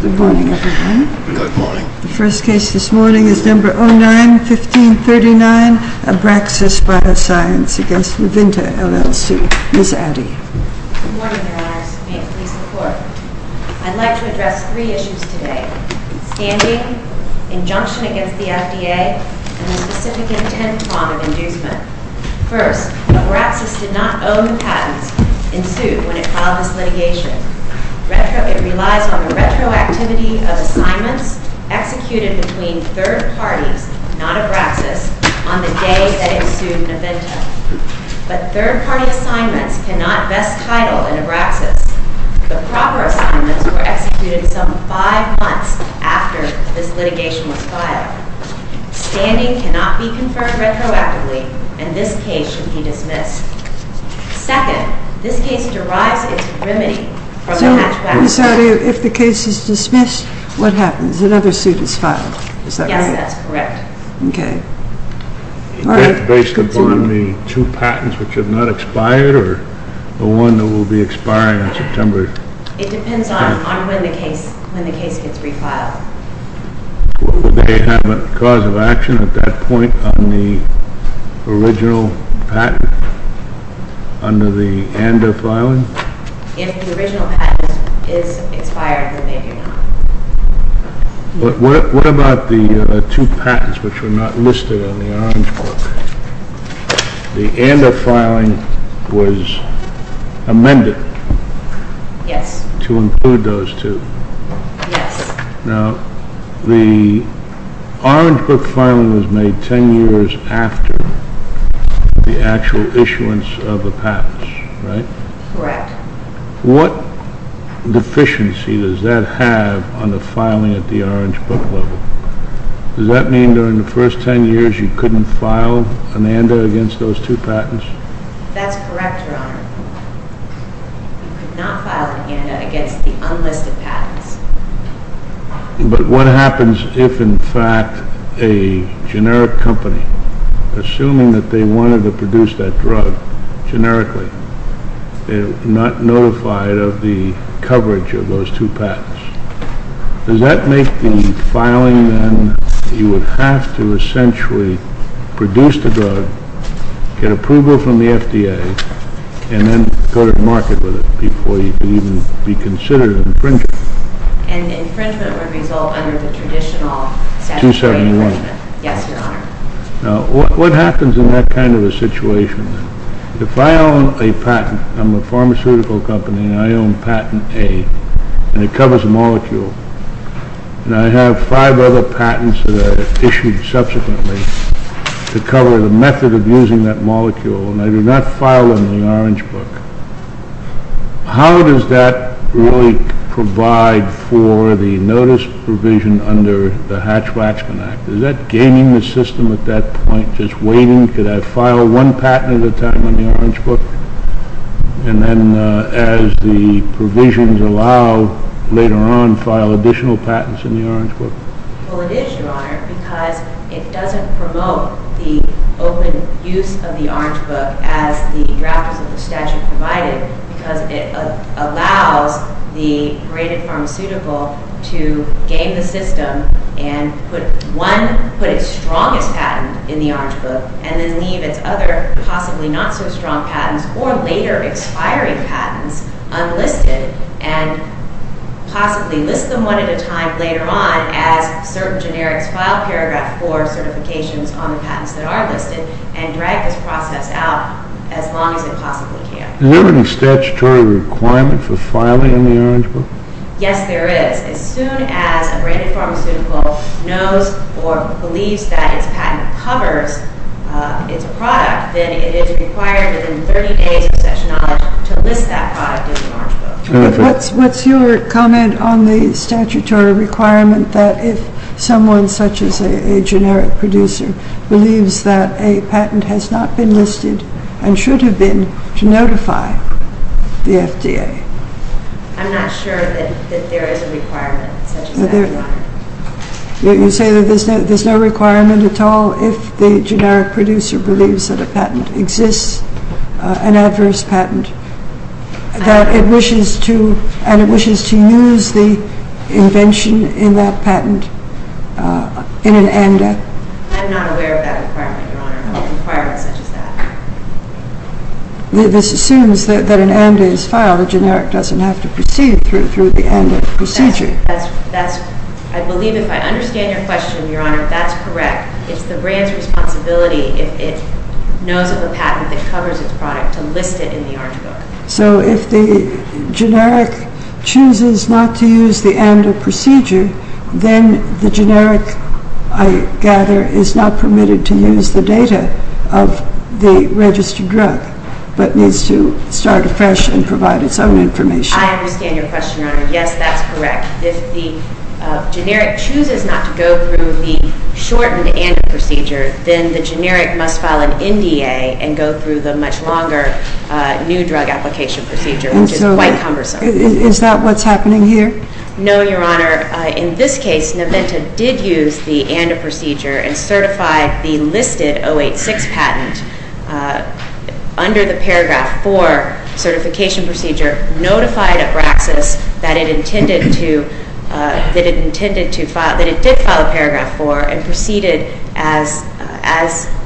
Good morning, everyone. Good morning. The first case this morning is number 09-1539, Abraxis Bioscience v. Navinta LLC. Ms. Addy. Good morning, Your Honors. May it please the Court. I'd like to address three issues today, standing, injunction against the FDA, and the specific intent form of inducement. First, Abraxis did not own the patents in suit when it filed this litigation. It relies on the retroactivity of assignments executed between third parties, not Abraxis, on the day that it sued Navinta. But third-party assignments cannot vest title in Abraxis. The proper assignments were executed some five months after this litigation was filed. Standing cannot be confirmed retroactively, and this case should be dismissed. Second, this case derives its remedy from a hatchback. So, Ms. Addy, if the case is dismissed, what happens? Another suit is filed, is that right? Yes, that's correct. OK. All right, let's continue. Is that based upon the two patents which have not expired, or the one that will be expiring in September? It depends on when the case gets refiled. Will they have a cause of action at that point on the original patent under the ANDA filing? If the original patent is expired, then they do not. But what about the two patents which were not listed on the Orange Book? The ANDA filing was amended to include those two. Yes. Now, the Orange Book filing was made 10 years after the actual issuance of the patents, right? Correct. What deficiency does that have on the filing at the Orange Book level? Does that mean during the first 10 years you couldn't file an ANDA against those two patents? That's correct, Your Honor. You could not file an ANDA against the unlisted patents. But what happens if, in fact, a generic company, assuming that they wanted to produce that drug generically, they're not notified of the coverage of those two patents? Does that make the filing, then, you would have to essentially produce the drug, get approval from the FDA, and then go to market with it before you could even be considered infringing? An infringement would result under the traditional statute of limitations. 271. Yes, Your Honor. Now, what happens in that kind of a situation? If I own a patent, I'm a pharmaceutical company, and I own patent A, and it covers a molecule, and I have five other patents that are issued subsequently to cover the method of using that molecule, and I do not file them in the Orange Book. How does that really provide for the notice provision under the Hatch-Waxman Act? Is that gaining the system at that point, just waiting? Could I file one patent at a time in the Orange Book? And then, as the provisions allow later on, file additional patents in the Orange Book? Well, it is, Your Honor, because it doesn't promote the open use of the Orange Book as the drafters of the statute provided, because it allows the graded pharmaceutical to gain the system and put one, put its strongest patent in the Orange Book, and then leave its other possibly not so strong patents, or later expiring patents, unlisted, and possibly list them one at a time later on, as certain generics file paragraph four certifications on the patents that are listed, and drag this process out as long as it possibly can. Is there any statutory requirement for filing in the Orange Book? Yes, there is. As soon as a graded pharmaceutical knows or believes that its patent covers its product, then it is required within 30 days of such knowledge to list that product in the Orange Book. What's your comment on the statutory requirement that if someone, such as a generic producer, believes that a patent has not been listed and should have been, to notify the FDA? I'm not sure that there is a requirement such as that. You say that there's no requirement at all if the generic producer believes that a patent exists, an adverse patent, and it wishes to use the invention in that patent in an AMDA? I'm not aware of that requirement, Your Honor, of a requirement such as that. This assumes that an AMDA is filed. A generic doesn't have to proceed through the AMDA procedure. I believe if I understand your question, Your Honor, that's correct. It's the brand's responsibility if it is of a patent that covers its product to list it in the Orange Book. So if the generic chooses not to use the AMDA procedure, then the generic, I gather, is not permitted to use the data of the registered drug, but needs to start afresh and provide its own information. I understand your question, Your Honor. Yes, that's correct. If the generic chooses not to go through the shortened AMDA procedure, then the generic must file an NDA and go through the much longer new drug application procedure, which is quite cumbersome. Is that what's happening here? No, Your Honor. In this case, Neventa did use the AMDA procedure and certified the listed 086 patent under the paragraph 4 certification procedure, notified Abraxas that it did file a paragraph 4 and proceeded as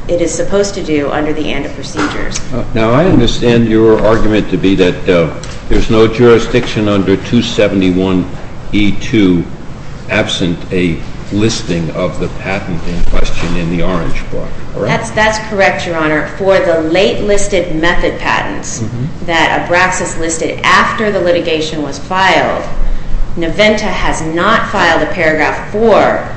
it is supposed to do under the AMDA procedures. Now, I understand your argument to be that there's no jurisdiction under 271E2 absent a listing of the patent in question in the Orange Book. That's correct, Your Honor. For the late listed method patents that Abraxas listed after the litigation was filed, Neventa has not filed a paragraph 4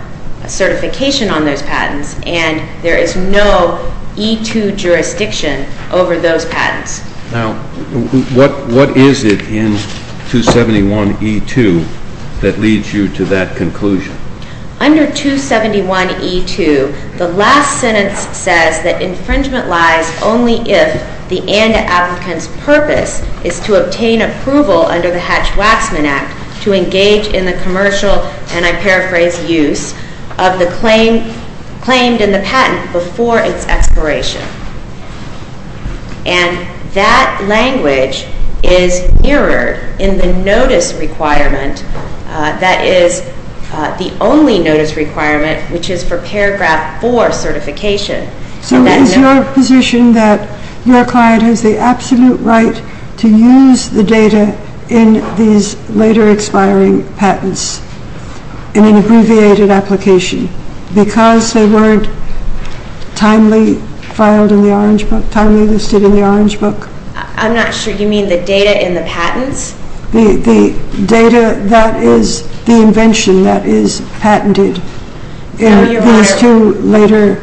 certification on those patents, and there is no E2 jurisdiction over those patents. Now, what is it in 271E2 that leads you to that conclusion? Under 271E2, the last sentence says that infringement lies only if the AMDA applicant's purpose is to obtain approval under the Hatch-Waxman Act to engage in the commercial, and I paraphrase, use of the claim, claimed in the patent before its expiration. And that language is mirrored in the notice requirement that is the only notice requirement, which is for paragraph 4 certification. So is your position that your client has the absolute right to use the data in these later expiring patents in an abbreviated application because they weren't timely listed in the Orange Book? I'm not sure you mean the data in the patents? The data that is the invention that is patented in these two later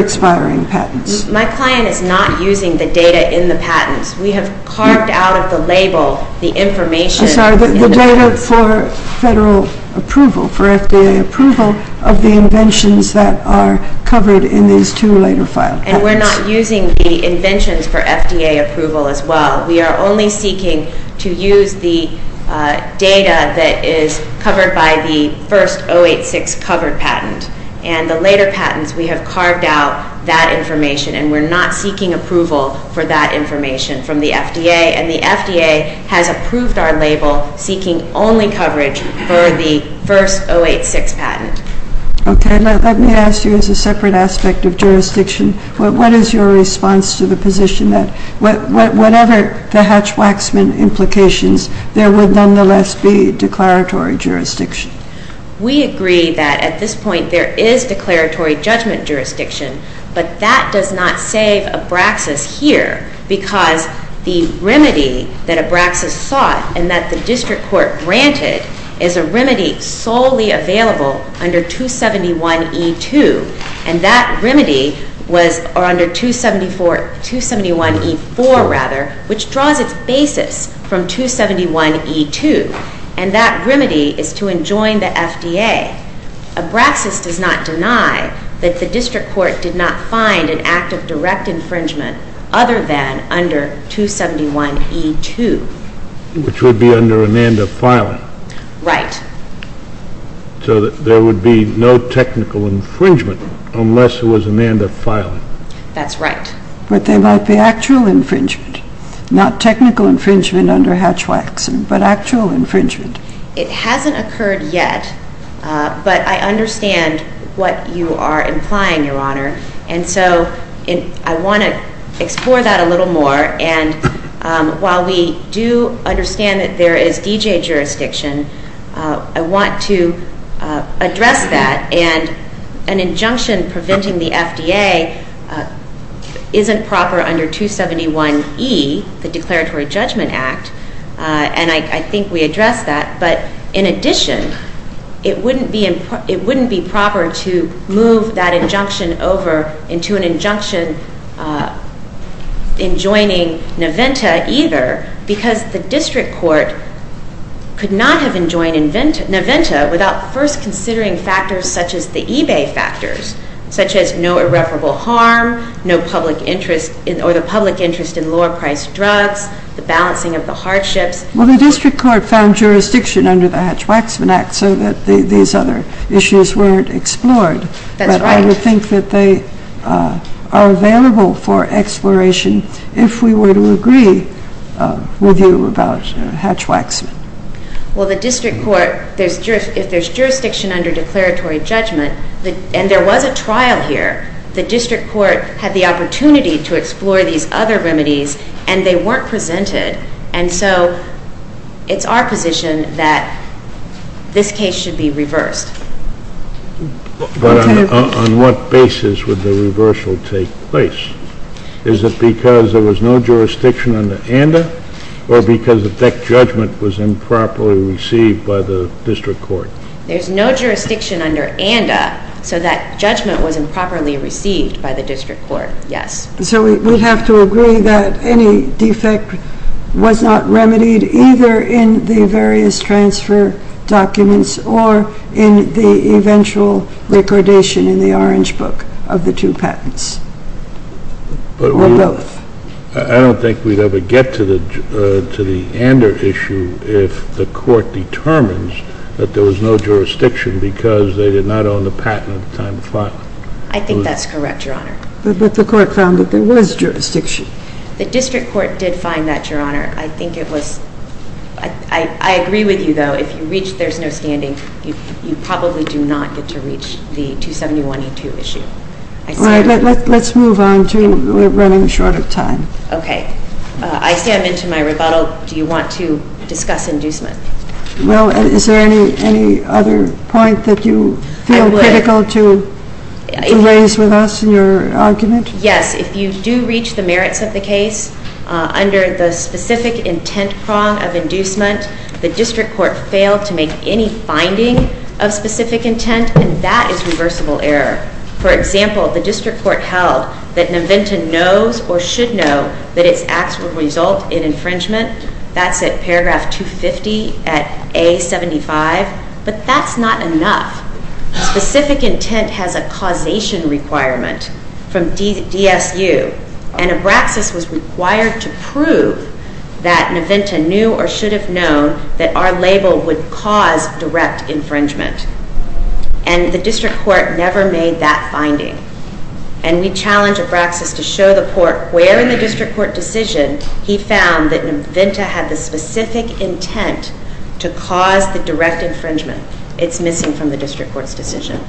expiring patents. My client is not using the data in the patents. We have carved out of the label the information. I'm sorry, the data for federal approval, for FDA approval of the inventions that are covered in these two later filed patents. And we're not using the inventions for FDA approval as well. We are only seeking to use the data that is covered by the first 086 covered patent, and the later patents, we have carved out that information, and we're not seeking approval for that information from the FDA, and the FDA has approved our label seeking only coverage for the first 086 patent. Okay, let me ask you as a separate aspect of jurisdiction, what is your response to the position that whatever the Hatch-Waxman implications, there would nonetheless be declaratory jurisdiction? We agree that at this point there is declaratory judgment jurisdiction, but that does not save Abraxas here because the remedy that Abraxas sought and that the district court granted is a remedy solely available under 271E2, and that remedy was under 271E4, rather, which draws its basis from 271E2. And that remedy is to enjoin the FDA. Abraxas does not deny that the district court did not find an act of direct infringement other than under 271E2. Which would be under an end of filing. Right. So there would be no technical infringement unless it was an end of filing. That's right. But there might be actual infringement, not technical infringement under Hatch-Waxman, but actual infringement. It hasn't occurred yet, but I understand what you are implying, Your Honor. And so I want to explore that a little more. And while we do understand that there is DJ jurisdiction, I want to address that. And an injunction preventing the FDA isn't proper under 271E, the Declaratory Judgment Act. And I think we addressed that. But in addition, it wouldn't be proper to move that injunction over into an injunction enjoining NAVENTA either, because the district court could not have enjoined NAVENTA without first considering factors such as the eBay factors, such as no irreparable harm, no public interest or the public interest in lower priced drugs, the balancing of the hardships. Well, the district court found jurisdiction under the Hatch-Waxman Act so that these other issues weren't explored. That's right. But I would think that they are available for exploration if we were to agree with you about Hatch-Waxman. Well, the district court, if there's jurisdiction under Declaratory Judgment, and there was a trial here, the district court had the opportunity to explore these other remedies. And they weren't presented. And so it's our position that this case should be reversed. But on what basis would the reversal take place? Is it because there was no jurisdiction under ANDA, or because that judgment was improperly received by the district court? There's no jurisdiction under ANDA so that judgment was improperly received by the district court. Yes. So we'd have to agree that any defect was not remedied either in the various transfer documents or in the eventual recordation in the Orange Book of the two patents, or both. I don't think we'd ever get to the ANDA issue if the court determines that there was no jurisdiction because they did not own the patent at the time of filing. I think that's correct, Your Honor. But the court found that there was jurisdiction. The district court did find that, Your Honor. I think it was. I agree with you, though. If you reach there's no standing, you probably do not get to reach the 271E2 issue. Let's move on to we're running short of time. OK. I stand into my rebuttal. Do you want to discuss inducement? Well, is there any other point that you feel critical to raise with us in your argument? Yes. If you do reach the merits of the case under the specific intent prong of inducement, the district court failed to make any finding of specific intent, and that is reversible error. For example, the district court held that Naventa knows or should know that its acts would result in infringement. That's at paragraph 250 at A75. But that's not enough. Specific intent has a causation requirement from DSU. And Abraxas was required to prove that Naventa knew or should have known that our label would cause direct infringement. And the district court never made that finding. And we challenge Abraxas to show the court where in the district court decision he found that Naventa had the specific intent to cause the direct infringement. It's missing from the district court's decision.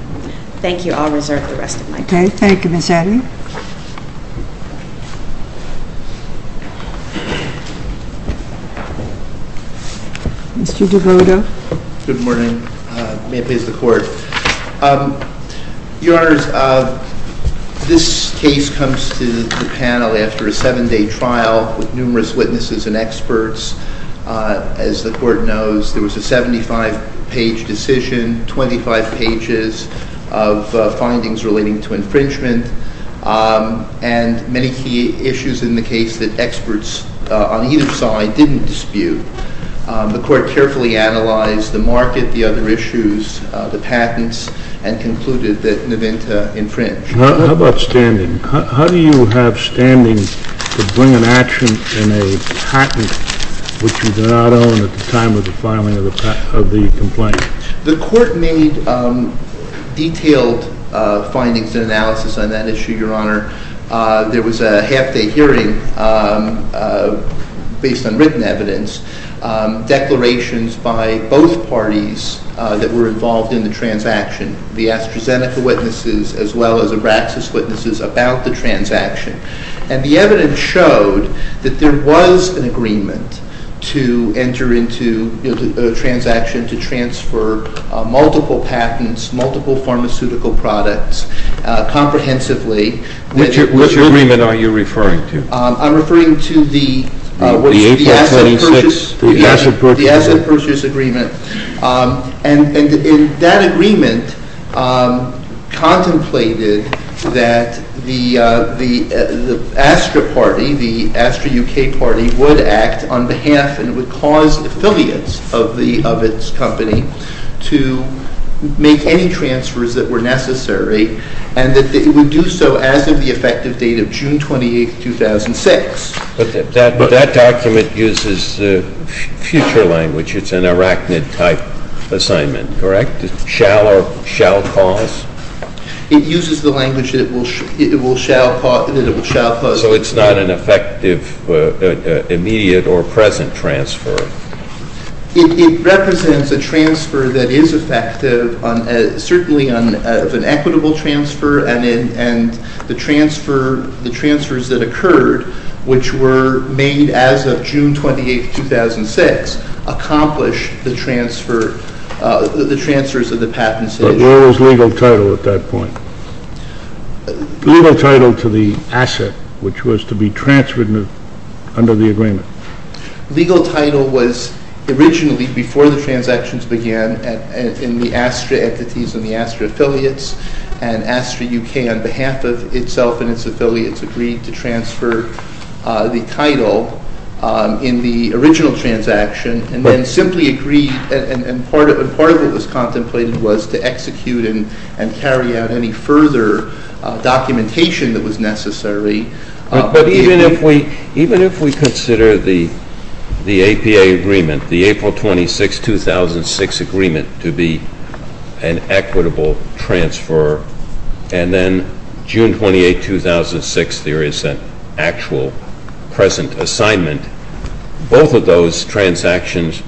Thank you. I'll reserve the rest of my time. Thank you, Ms. Addy. Mr. DeVoto. Good morning. May it please the court. Your Honors, this case comes to the panel after a seven-day trial with numerous witnesses and experts. As the court knows, there was a 75-page decision, 25 pages of findings relating to infringement, and many key issues in the case that experts on either side didn't dispute. The court carefully analyzed the market, the other issues, the patents, and concluded that Naventa infringed. How about standing? How do you have standing to bring an action in a patent which you did not own at the time of the filing of the complaint? The court made detailed findings and analysis on that issue, Your Honor. There was a half-day hearing based on written evidence, declarations by both parties that were involved in the transaction. The AstraZeneca witnesses, as well as the other witnesses, were present at the hearing without the transaction. And the evidence showed that there was an agreement to enter into a transaction to transfer multiple patents, multiple pharmaceutical products, comprehensively. Which agreement are you referring to? I'm referring to the asset purchase agreement. And that agreement contemplated that the Astra party, the Astra UK party, would act on behalf and would cause affiliates of its company to make any transfers that were necessary, and that it would do so as of the effective date of June 28, 2006. But that document uses future language. It's an arachnid-type assignment, correct? Shall or shall cause? It uses the language that it will shall cause. So it's not an effective, immediate, or present transfer? It represents a transfer that is effective, certainly of an equitable transfer. And the transfers that occurred, which were made as of June 28, 2006, accomplish the transfers of the patents issued. But what was legal title at that point? Legal title to the asset, which was to be transferred under the agreement. Legal title was originally, before the transactions began, in the Astra entities and the Astra affiliates, and Astra UK, on behalf of itself and its affiliates, agreed to transfer the title in the original transaction, and then simply agreed. And part of it was contemplated was to execute and carry out any further documentation that was necessary. But even if we consider the APA agreement, the April 26, 2006 agreement, to be an equitable transfer, and then June 28, 2006, there is an actual present assignment. Both of those transactions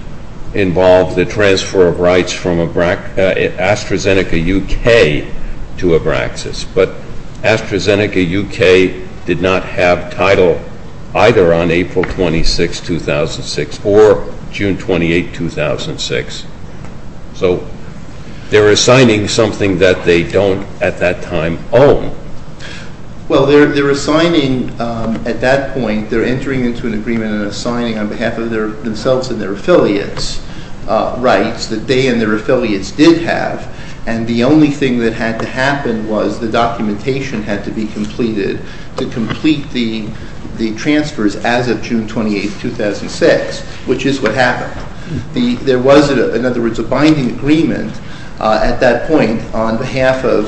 involve the transfer of rights from AstraZeneca UK to Abraxas. But AstraZeneca UK did not have title either on April 26, 2006 or June 28, 2006. So they're assigning something that they don't, at that time, own. Well, they're assigning, at that point, they're entering into an agreement and assigning on behalf of themselves and their affiliates rights that they and their affiliates did have. And the only thing that had to happen was the documentation had to be completed to complete the transfers as of June 28, 2006, which is what happened. There was, in other words, a binding agreement at that point on behalf of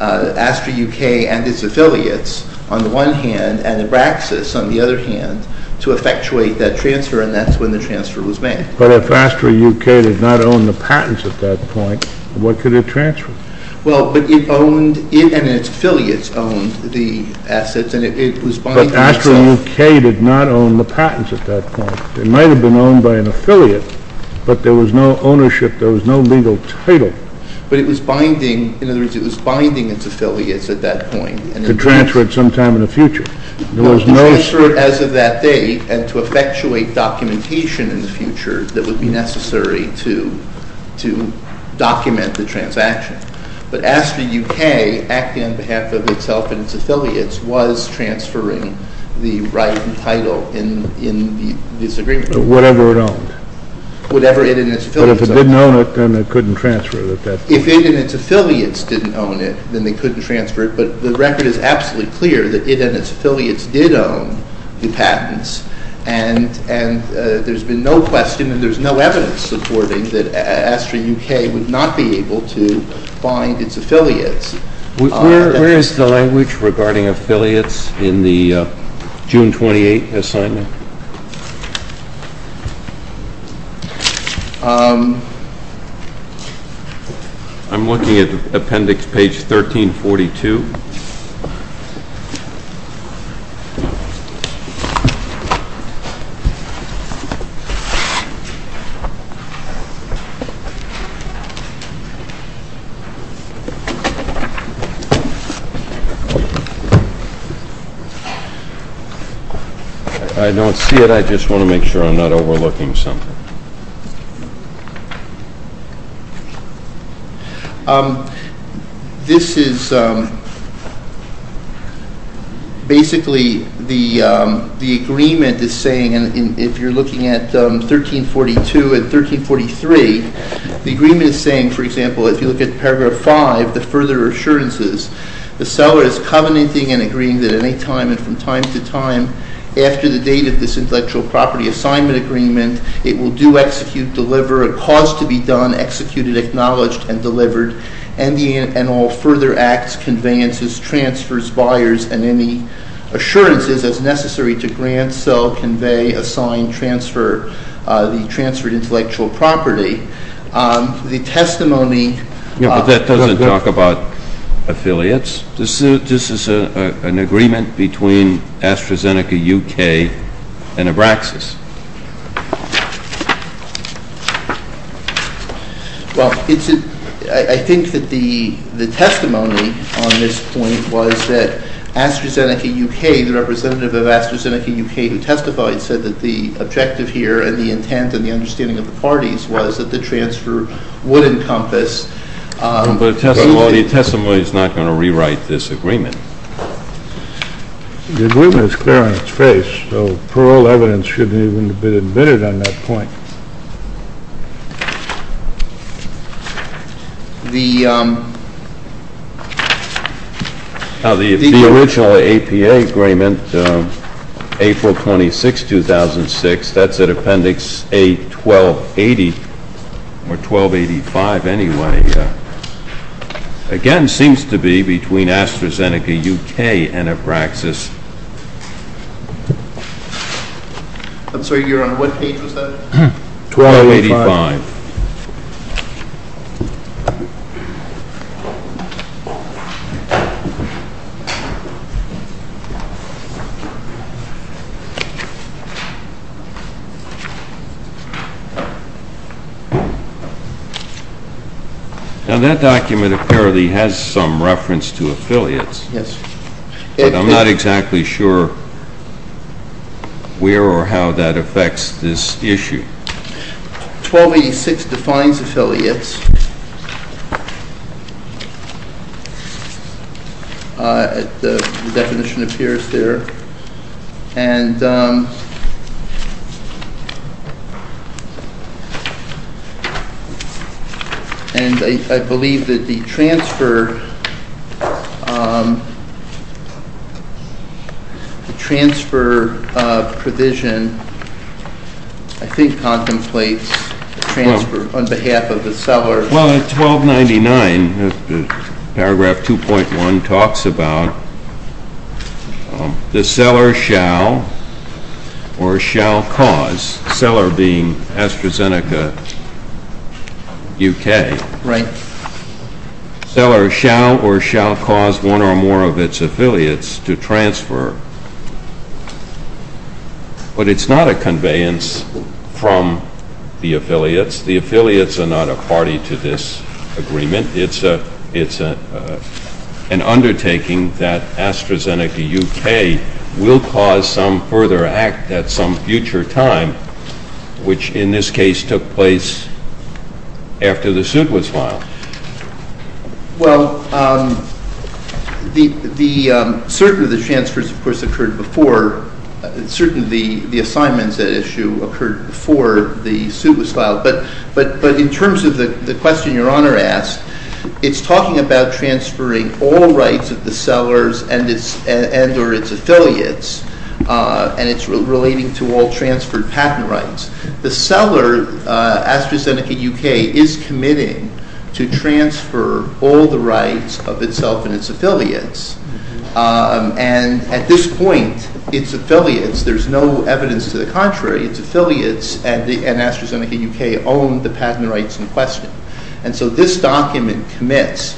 AstraZeneca UK and its affiliates, on the one hand, and Abraxas, on the other hand, to effectuate that transfer. And that's when the transfer was made. But if AstraZeneca UK did not own the patents at that point, what could it transfer? Well, but it owned, and its affiliates owned the assets. And it was binding itself. But AstraZeneca UK did not own the patents at that point. It might have been owned by an affiliate. But there was no ownership. There was no legal title. But it was binding. In other words, it was binding its affiliates at that point. To transfer it sometime in the future. There was no. To transfer it as of that date and to effectuate documentation in the future that would be necessary to document the transaction. But AstraZeneca UK, acting on behalf of itself and its affiliates, was transferring the right and title in this agreement. Whatever it owned. Whatever it and its affiliates owned. But if it didn't own it, then it couldn't transfer it at that point. If it and its affiliates didn't own it, then they couldn't transfer it. But the record is absolutely clear that it and its affiliates did own the patents. And there's been no question and there's no evidence supporting that AstraZeneca UK would not be able to bind its affiliates. Where is the language regarding affiliates in the June 28 assignment? I'm looking at appendix page 1342. If I don't see it, I just want to make sure I'm not overlooking something. This is basically the agreement is saying, and if you're looking at 1342 and 1343, the agreement is saying, for example, if you look at paragraph five, the further assurances. The seller is covenanting and agreeing that any time and from time to time after the date of this intellectual property assignment agreement, it will do, execute, deliver, a cause to be done, executed, acknowledged, and delivered, and all further acts, conveyances, transfers, buyers, and any assurances as necessary to grant, sell, convey, assign, transfer the transferred intellectual property. The testimony of- Yeah, but that doesn't talk about affiliates. This is an agreement between AstraZeneca UK and Abraxas. Well, I think that the testimony on this point was that AstraZeneca UK, the representative of AstraZeneca UK who testified, said that the objective here and the intent and the understanding of the parties was that the transfer would encompass- But the testimony is not going to rewrite this agreement. The agreement is clear on its face, so parole evidence shouldn't even have been admitted on that point. The original APA agreement, April 26, 2006, that's at appendix A1280, or 1285, anyway. Again, seems to be between AstraZeneca UK and Abraxas. I'm sorry, you're on what page was that? 1285. Now that document apparently has some reference to affiliates. Yes. But I'm not exactly sure where or how that affects this issue. 1286 defines affiliates. The definition appears there. And I believe that the transfer provision, I think, contemplates a transfer on behalf of the seller. Well, at 1299, paragraph 2.1 talks about the seller shall or shall cause, seller being AstraZeneca UK, seller shall or shall cause one or more of its affiliates to transfer. But it's not a conveyance from the affiliates. The affiliates are not a party to this agreement. It's an undertaking that AstraZeneca UK will cause some further act at some future time, which in this case took place after the suit was filed. Well, certainly the transfers, of course, occurred before, certainly the assignments issue occurred before the suit was filed. But in terms of the question your honor asked, it's talking about transferring all rights of the sellers and or its affiliates. And it's relating to all transferred patent rights. The seller, AstraZeneca UK, is committing to transfer all the rights of itself and its affiliates. And at this point, its affiliates, there's no evidence to the contrary. Its affiliates and AstraZeneca UK own the patent rights in question. And so this document commits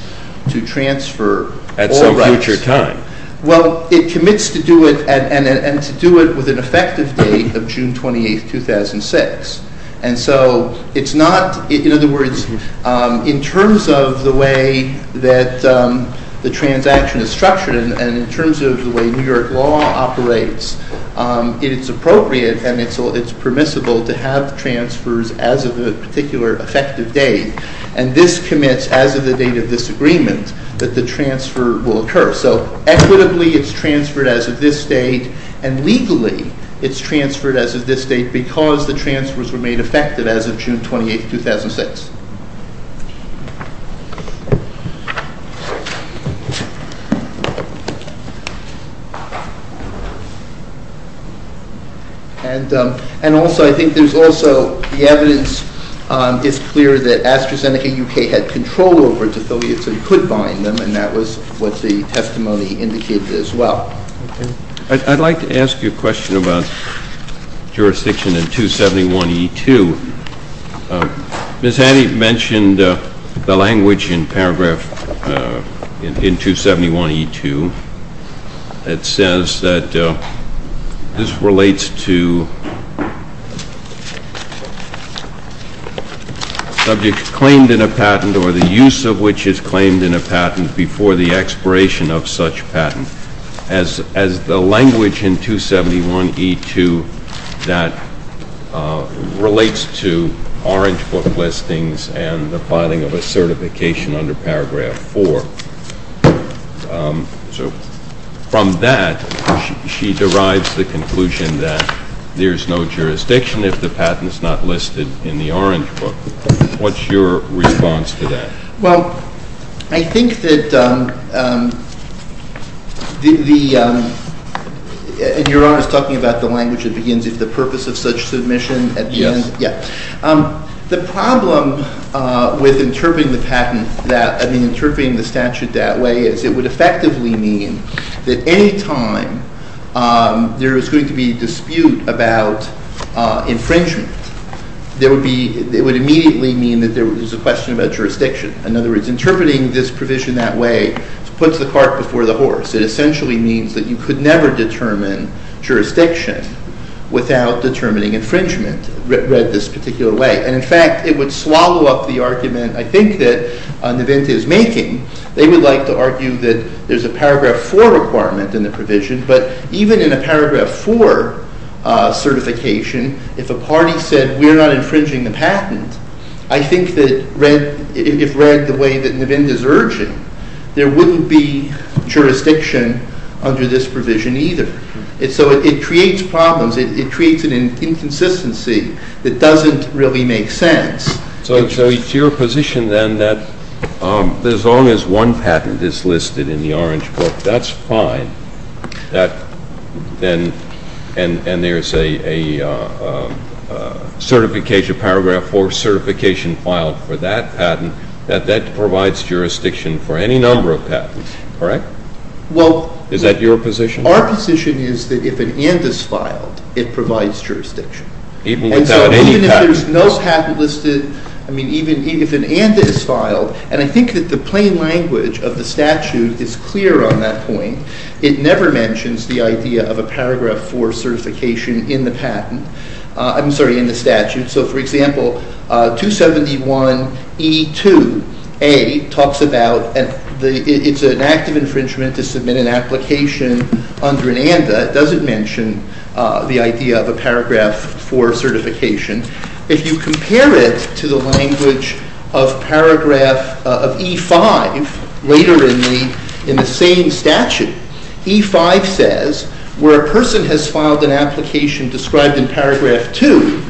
to transfer all rights. At some future time. Well, it commits to do it and to do it with an effective date of June 28, 2006. And so it's not, in other words, in terms of the way that the transaction is structured and in terms of the way New York law operates, it's appropriate and it's permissible to have transfers as of a particular effective date. And this commits, as of the date of this agreement, that the transfer will occur. So equitably, it's transferred as of this date. And legally, it's transferred as of this date because the transfers were made effective as of June 28, 2006. And also, I think there's also the evidence is clear that AstraZeneca UK had control over its affiliates and could bind them. And that was what the testimony indicated as well. I'd like to ask you a question about jurisdiction in 271E2. Ms. Hanny mentioned the language in paragraph 271E2 that says that this relates to subjects claimed in a patent or the use of which is claimed in a patent before the expiration of such patent. As the language in 271E2 that relates to orange book listings and the plotting of a certification under paragraph 4. So from that, she derives the conclusion that there's no jurisdiction if the patent is not listed in the orange book. What's your response to that? Well, I think that the, in your honor, is talking about the language that begins with the purpose of such submission. Yes. Yeah. The problem with interpreting the statute that way is it would effectively mean that any time there is going to be a dispute about infringement, it would immediately mean that there was a question about jurisdiction. In other words, interpreting this provision that way puts the cart before the horse. It essentially means that you could never determine jurisdiction without determining infringement, read this particular way. And in fact, it would swallow up the argument, I think, that Navin is making. They would like to argue that there's a paragraph 4 requirement in the provision. But even in a paragraph 4 certification, if a party said, we're not infringing the patent, I think that if read the way that Navin is urging, there wouldn't be jurisdiction under this provision either. So it creates problems. It creates an inconsistency that doesn't really make sense. So it's your position, then, that as long as one patent is listed in the Orange Book, that's fine, and there's a paragraph 4 certification filed for that patent, that that provides jurisdiction for any number of patents, correct? Is that your position? Our position is that if an and is filed, it provides jurisdiction. Even without any patent? Even if there's no patent listed, I mean, even if an and is filed, and I think that the plain language of the statute is clear on that point, it never mentions the idea of a paragraph 4 certification in the statute. So for example, 271E2A talks about and it's an act of infringement to submit an application under an and that doesn't mention the idea of a paragraph 4 certification. If you compare it to the language of paragraph of E5, later in the same statute, E5 says, where a person has filed an application described in paragraph 2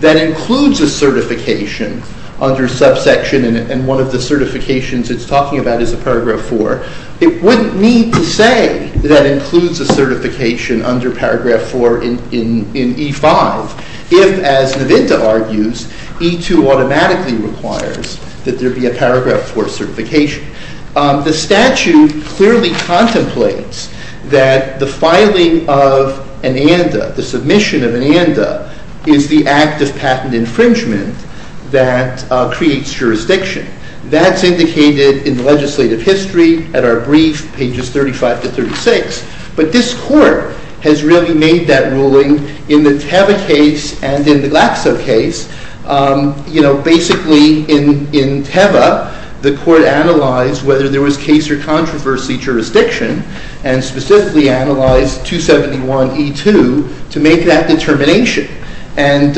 that includes a certification under subsection, and one of the certifications it's talking about is a paragraph 4, it wouldn't need to say that includes a certification under paragraph 4 in E5 if, as Navinda argues, E2 automatically requires that there be a paragraph 4 certification. The statute clearly contemplates that the filing of an and, the submission of an and, is the act of patent infringement that creates jurisdiction. That's indicated in the legislative history at our brief, pages 35 to 36. But this court has really made that ruling in the Teva case and in the Glaxo case. You know, basically in Teva, the court analyzed whether there was case or controversy jurisdiction and specifically analyzed 271E2 to make that determination and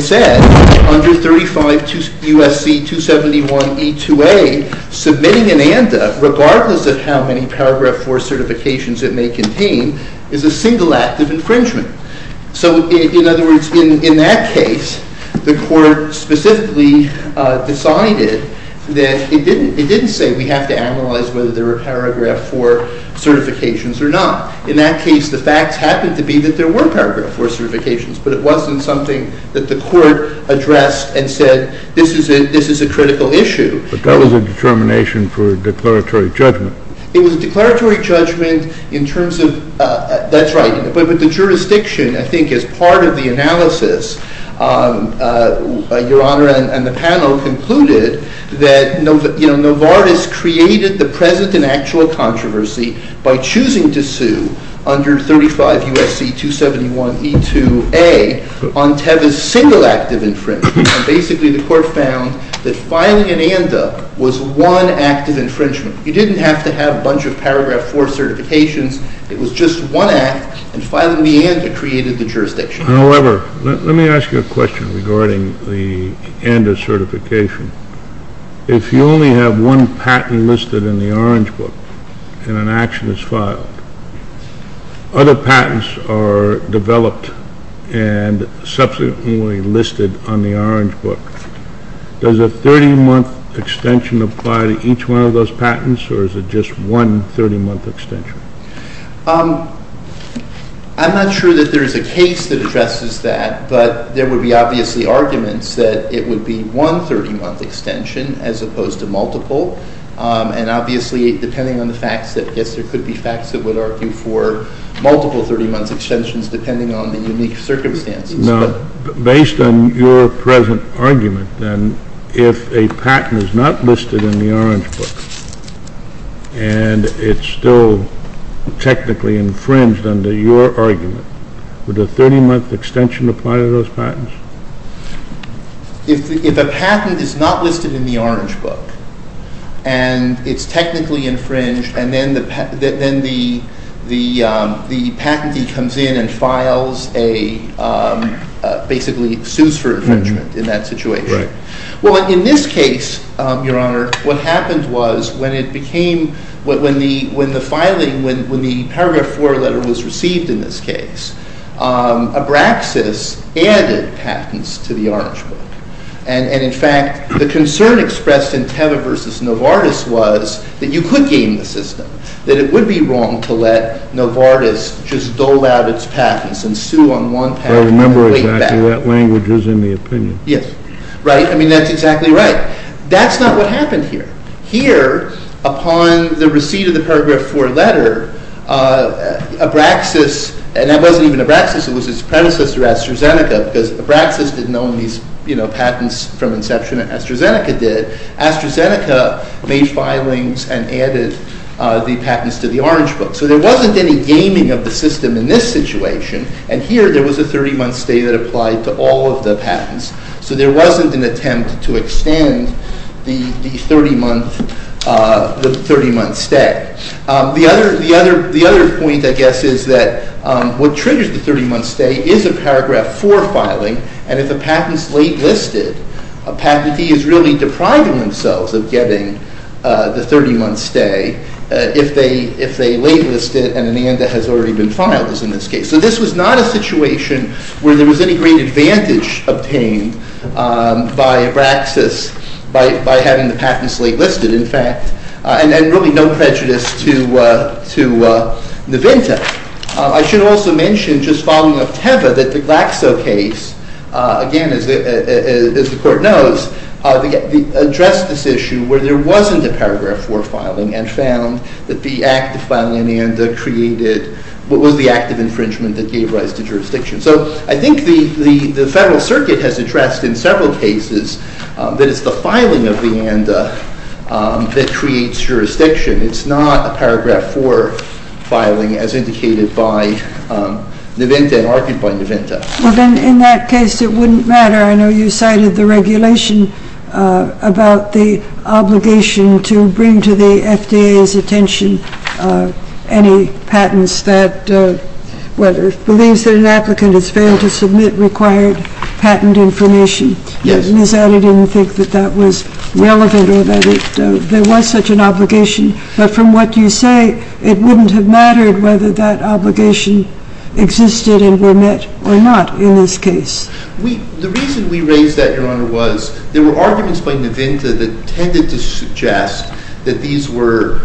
said, under 35 USC 271E2A, submitting an and regardless of how many paragraph 4 certifications it may contain is a single act of infringement. So in other words, in that case, the court specifically decided that it didn't say we have to analyze whether there were paragraph 4 certifications or not. In that case, the facts happened to be that there were paragraph 4 certifications, but it wasn't something that the court addressed and said, this is a critical issue. But that was a determination for a declaratory judgment. It was a declaratory judgment in terms of, that's right. But with the jurisdiction, I think as part of the analysis, your honor and the panel concluded that Novartis created the present and actual controversy by choosing to sue under 35 USC 271E2A on Teva's single act of infringement. Basically, the court found that filing an and-a was one act of infringement. You didn't have to have a bunch of paragraph 4 certifications. It was just one act. And filing the and-a created the jurisdiction. However, let me ask you a question regarding the and-a certification. If you only have one patent listed in the orange book and an action is filed, other patents are developed and subsequently listed on the orange book. Does a 30-month extension apply to each one of those patents, or is it just one 30-month extension? I'm not sure that there is a case that addresses that, but there would be obviously arguments as opposed to multiple. And obviously, depending on the facts, I guess there could be facts that would argue for multiple 30-month extensions, depending on the unique circumstances. Now, based on your present argument, then, if a patent is not listed in the orange book and it's still technically infringed under your argument, would a 30-month extension apply to those patents? If a patent is not listed in the orange book and it's technically infringed, and then the patentee comes in and basically sues for infringement in that situation. Well, in this case, Your Honor, what happened was when the paragraph 4 letter was received in this case, Abraxas added patents to the orange book. And in fact, the concern expressed in Teva versus Novartis was that you could game the system, that it would be wrong to let Novartis just dole out its patents and sue on one patent and wait back. I remember exactly what language was in the opinion. Yes. Right, I mean, that's exactly right. That's not what happened here. Here, upon the receipt of the paragraph 4 letter, Abraxas, and that wasn't even Abraxas, it was his predecessor, AstraZeneca, because Abraxas didn't own these patents from inception, and AstraZeneca did. AstraZeneca made filings and added the patents to the orange book. So there wasn't any gaming of the system in this situation. And here, there was a 30-month stay that applied to all of the patents. So there wasn't an attempt to extend the 30-month stay. The other point, I guess, is that what triggers the 30-month stay is a paragraph 4 filing. And if a patent's late listed, a patentee is really depriving themselves of getting the 30-month stay if they late list it and, in the end, it has already been filed, as in this case. So this was not a situation where there was any great advantage obtained by Abraxas by having the patents late listed, in fact. And really, no prejudice to Navinta. I should also mention, just following up Teva, that the Glaxo case, again, as the court knows, addressed this issue where there wasn't a paragraph 4 filing and found that the act of filing an ANDA created what was the act of infringement that gave rise to jurisdiction. So I think the Federal Circuit has addressed, in several cases, that it's the filing of the ANDA that creates jurisdiction. It's not a paragraph 4 filing, as indicated by Navinta and argued by Navinta. Well, then, in that case, it wouldn't matter. I know you cited the regulation about the obligation to bring to the FDA's attention any patents that, well, believes that an applicant has failed to submit required patent information. Yes. And is that a thing that that was relevant or that there was such an obligation? But from what you say, it wouldn't have mattered whether that obligation existed and were met or not in this case. The reason we raised that, Your Honor, was there were arguments by Navinta that tended to suggest that these were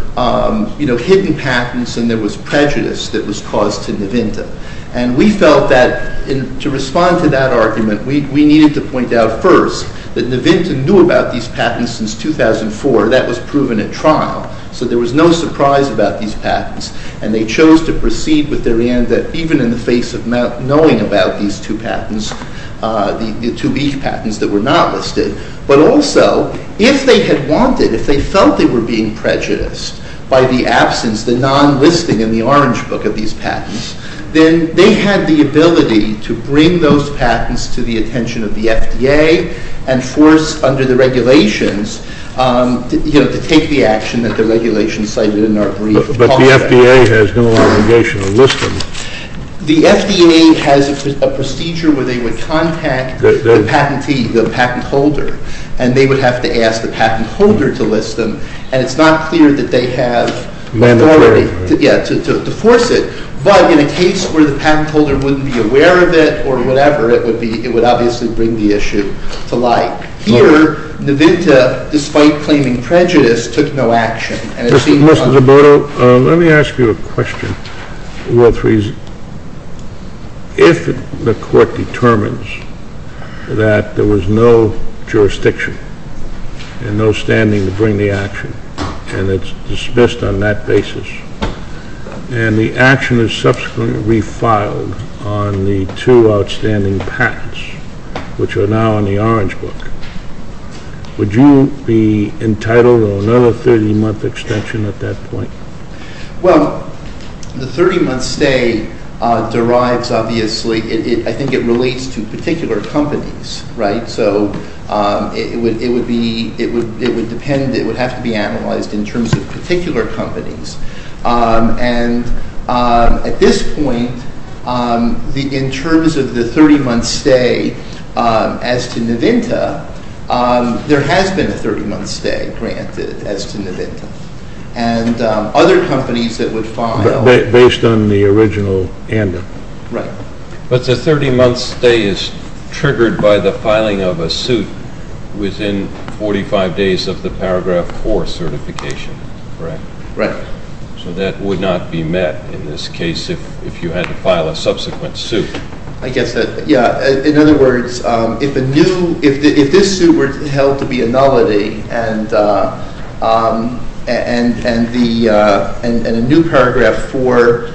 hidden patents and there was prejudice that was caused to Navinta. And we felt that, to respond to that argument, we needed to point out first that Navinta knew about these patents since 2004. That was proven at trial. So there was no surprise about these patents. And they chose to proceed with their ANDA even in the face of knowing about these two patents, the two weak patents that were not listed. But also, if they had wanted, if they felt they were being prejudiced by the absence, the non-listing in the orange book of these patents, then they had the ability to bring those patents to the attention of the FDA and force, under the regulations, to take the action that the regulations cited in our brief contract. But the FDA has no obligation to list them. The FDA has a procedure where they would contact the patentee, the patent holder. And they would have to ask the patent holder to list them. And it's not clear that they have authority to force it. But in a case where the patent holder wouldn't be aware of it or whatever, it would obviously bring the issue to light. Here, Navinta, despite claiming prejudice, took no action. And it seemed to be on the record. Mr. Zoboto, let me ask you a question worth reasoning. If the court determines that there was no jurisdiction and no standing to bring the action, and it's dismissed on that basis, and the action is subsequently refiled on the two outstanding patents, which are now in the orange book, would you be entitled to another 30-month extension at that point? Well, the 30-month stay derives, obviously, I think it relates to particular companies, right? So it would depend. It would have to be analyzed in terms of particular companies. And at this point, in terms of the 30-month stay, as to Navinta, there has been a 30-month stay granted as to Navinta. And other companies that would file. Based on the original amendment. Right. But the 30-month stay is triggered by the filing of a suit within 45 days of the paragraph 4 certification, correct? Right. So that would not be met in this case if you had to file a subsequent suit. I guess that, yeah. In other words, if this suit were held to be a nullity, and a new paragraph 4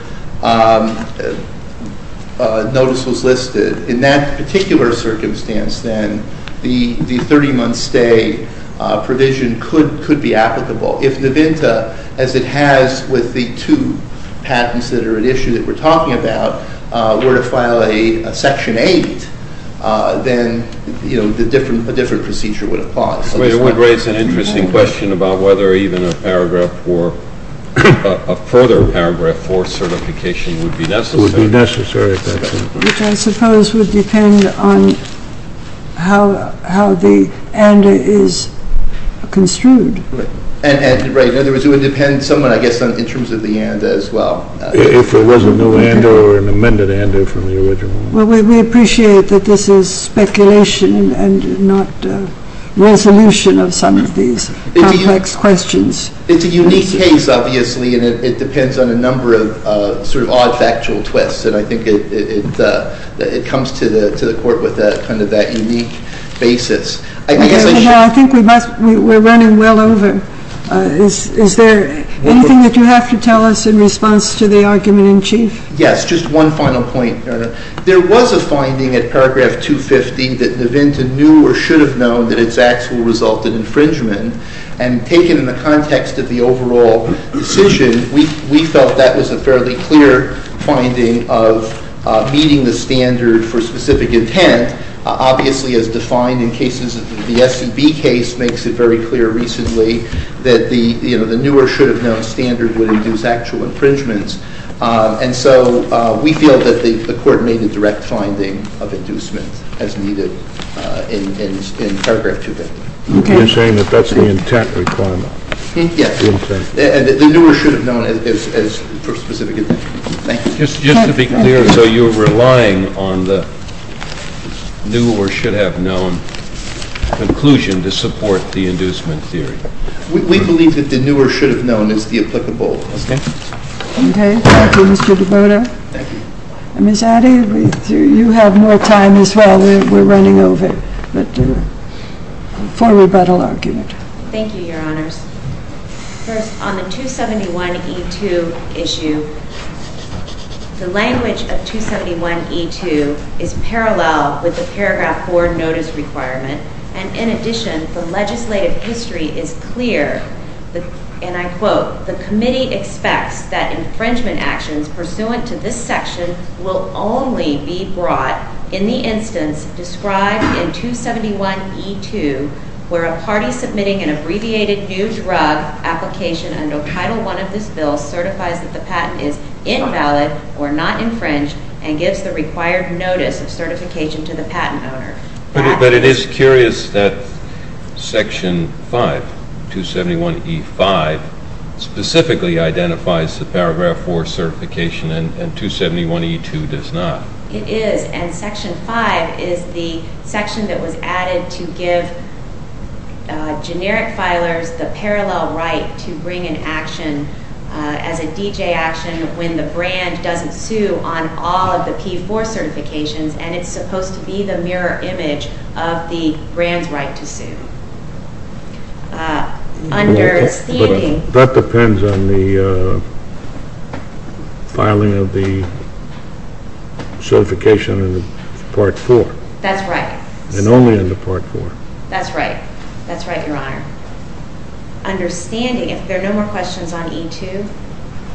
notice was listed, in that particular circumstance, then the 30-month stay provision could be applicable. If Navinta, as it has with the two patents that are at issue that we're talking about, were to file a section 8, then a different procedure would apply. But it would raise an interesting question about whether even a further paragraph 4 certification would be necessary. Would be necessary, exactly. Which I suppose would depend on how the ANDA is construed. Right. In other words, it would depend somewhat, I guess, in terms of the ANDA as well. If there was a new ANDA or an amended ANDA from the original. Well, we appreciate that this is speculation and not resolution of some of these complex questions. It's a unique case, obviously, and it depends on a number of sort of odd factual twists. And I think it comes to the court with kind of that unique basis. I think we're running well over. Is there anything that you have to tell us in response to the argument in chief? Yes, just one final point, Your Honor. There was a finding at paragraph 250 that Navinta knew or should have known that its acts will result in infringement. And taken in the context of the overall decision, we felt that was a fairly clear finding of meeting the standard for specific intent, obviously, as defined in cases of the SCB case makes it very clear recently that the newer should have known standard would induce actual infringements. And so we feel that the court made a direct finding of inducement as needed in paragraph 250. You're saying that that's the intent requirement? Yes, and the newer should have known as for specific intent. Thank you. Just to be clear, so you're relying on the new or should have known conclusion to support the inducement theory? We believe that the newer should have known is the applicable standard. OK, thank you, Mr. DiBona. Ms. Addy, you have more time as well. We're running over, but for rebuttal argument. Thank you, Your Honors. First, on the 271E2 issue, the language of 271E2 is parallel with the paragraph 4 notice requirement. And in addition, the legislative history is clear. And I quote, the committee expects that infringement actions pursuant to this section will only be brought in the instance described in 271E2, where a party submitting an abbreviated new drug application under Title I of this bill certifies that the patent is invalid or not infringed and gives the required notice of certification to the patent owner. But it is curious that section 5, 271E5, specifically identifies the paragraph 4 certification, and 271E2 does not. It is, and section 5 is the section that was added to give generic filers the parallel right to bring an action as a DJ action when the brand doesn't sue on all of the P4 certifications, and it's supposed to be the mirror image of the brand's right to sue. Understanding. That depends on the filing of the certification in the part 4. That's right. And only under part 4. That's right. That's right, Your Honor. Understanding, if there are no more questions on E2.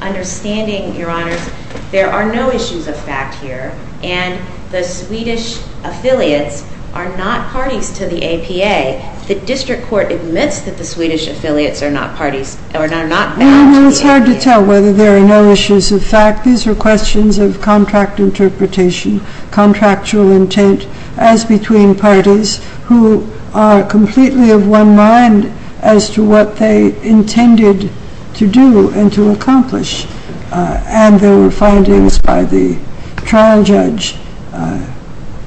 Understanding, Your Honors, there are no issues of fact here, and the Swedish affiliates are not parties to the APA. The district court admits that the Swedish affiliates are not parties, or are not bound to the APA. Well, it's hard to tell whether there are no issues of fact. These are questions of contract interpretation, contractual intent, as between parties who are completely of one mind as to what they intended to do and to accomplish. And there were findings by the trial judge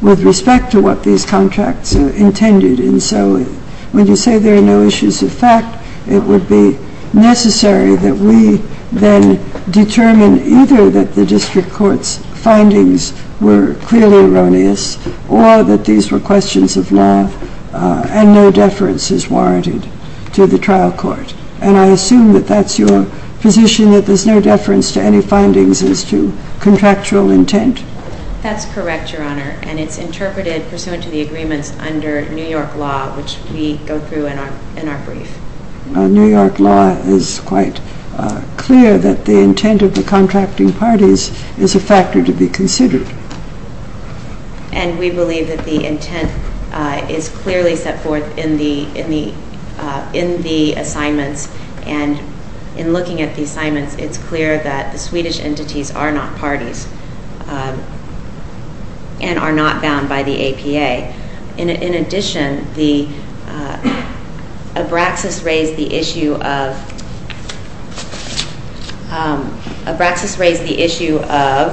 with respect to what these contracts intended. And so when you say there are no issues of fact, it would be necessary that we then determine either that the district court's findings were clearly erroneous, or that these were questions of law, and no deference is warranted to the trial court. And I assume that that's your position, that there's no deference to any findings as to contractual intent? That's correct, Your Honor. And it's interpreted pursuant to the agreements under New York law, which we go through in our brief. New York law is quite clear that the intent of the contracting parties is a factor to be considered. And we believe that the intent is clearly set forth in the assignments. And in looking at the assignments, it's clear that the Swedish entities are not parties and are not bound by the APA. In addition, Abraxas raised the issue of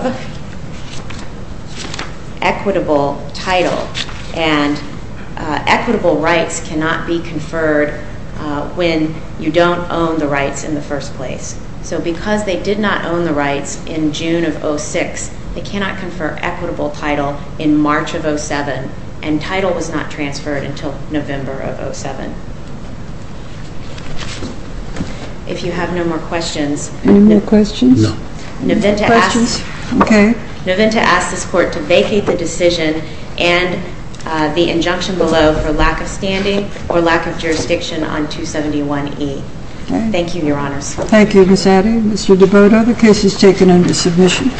equitable title. And equitable rights cannot be conferred when you don't own the rights in the first place. So because they did not own the rights in June of 06, they cannot confer equitable title in March of 07. And title was not transferred until November of 07. If you have no more questions. Any more questions? No. No questions? OK. No, then to ask this court to vacate the decision and the injunction below for lack of standing or lack of jurisdiction on 271E. Thank you, Your Honors. Thank you, Ms. Addy. Mr. DeBoto, the case is taken under submission.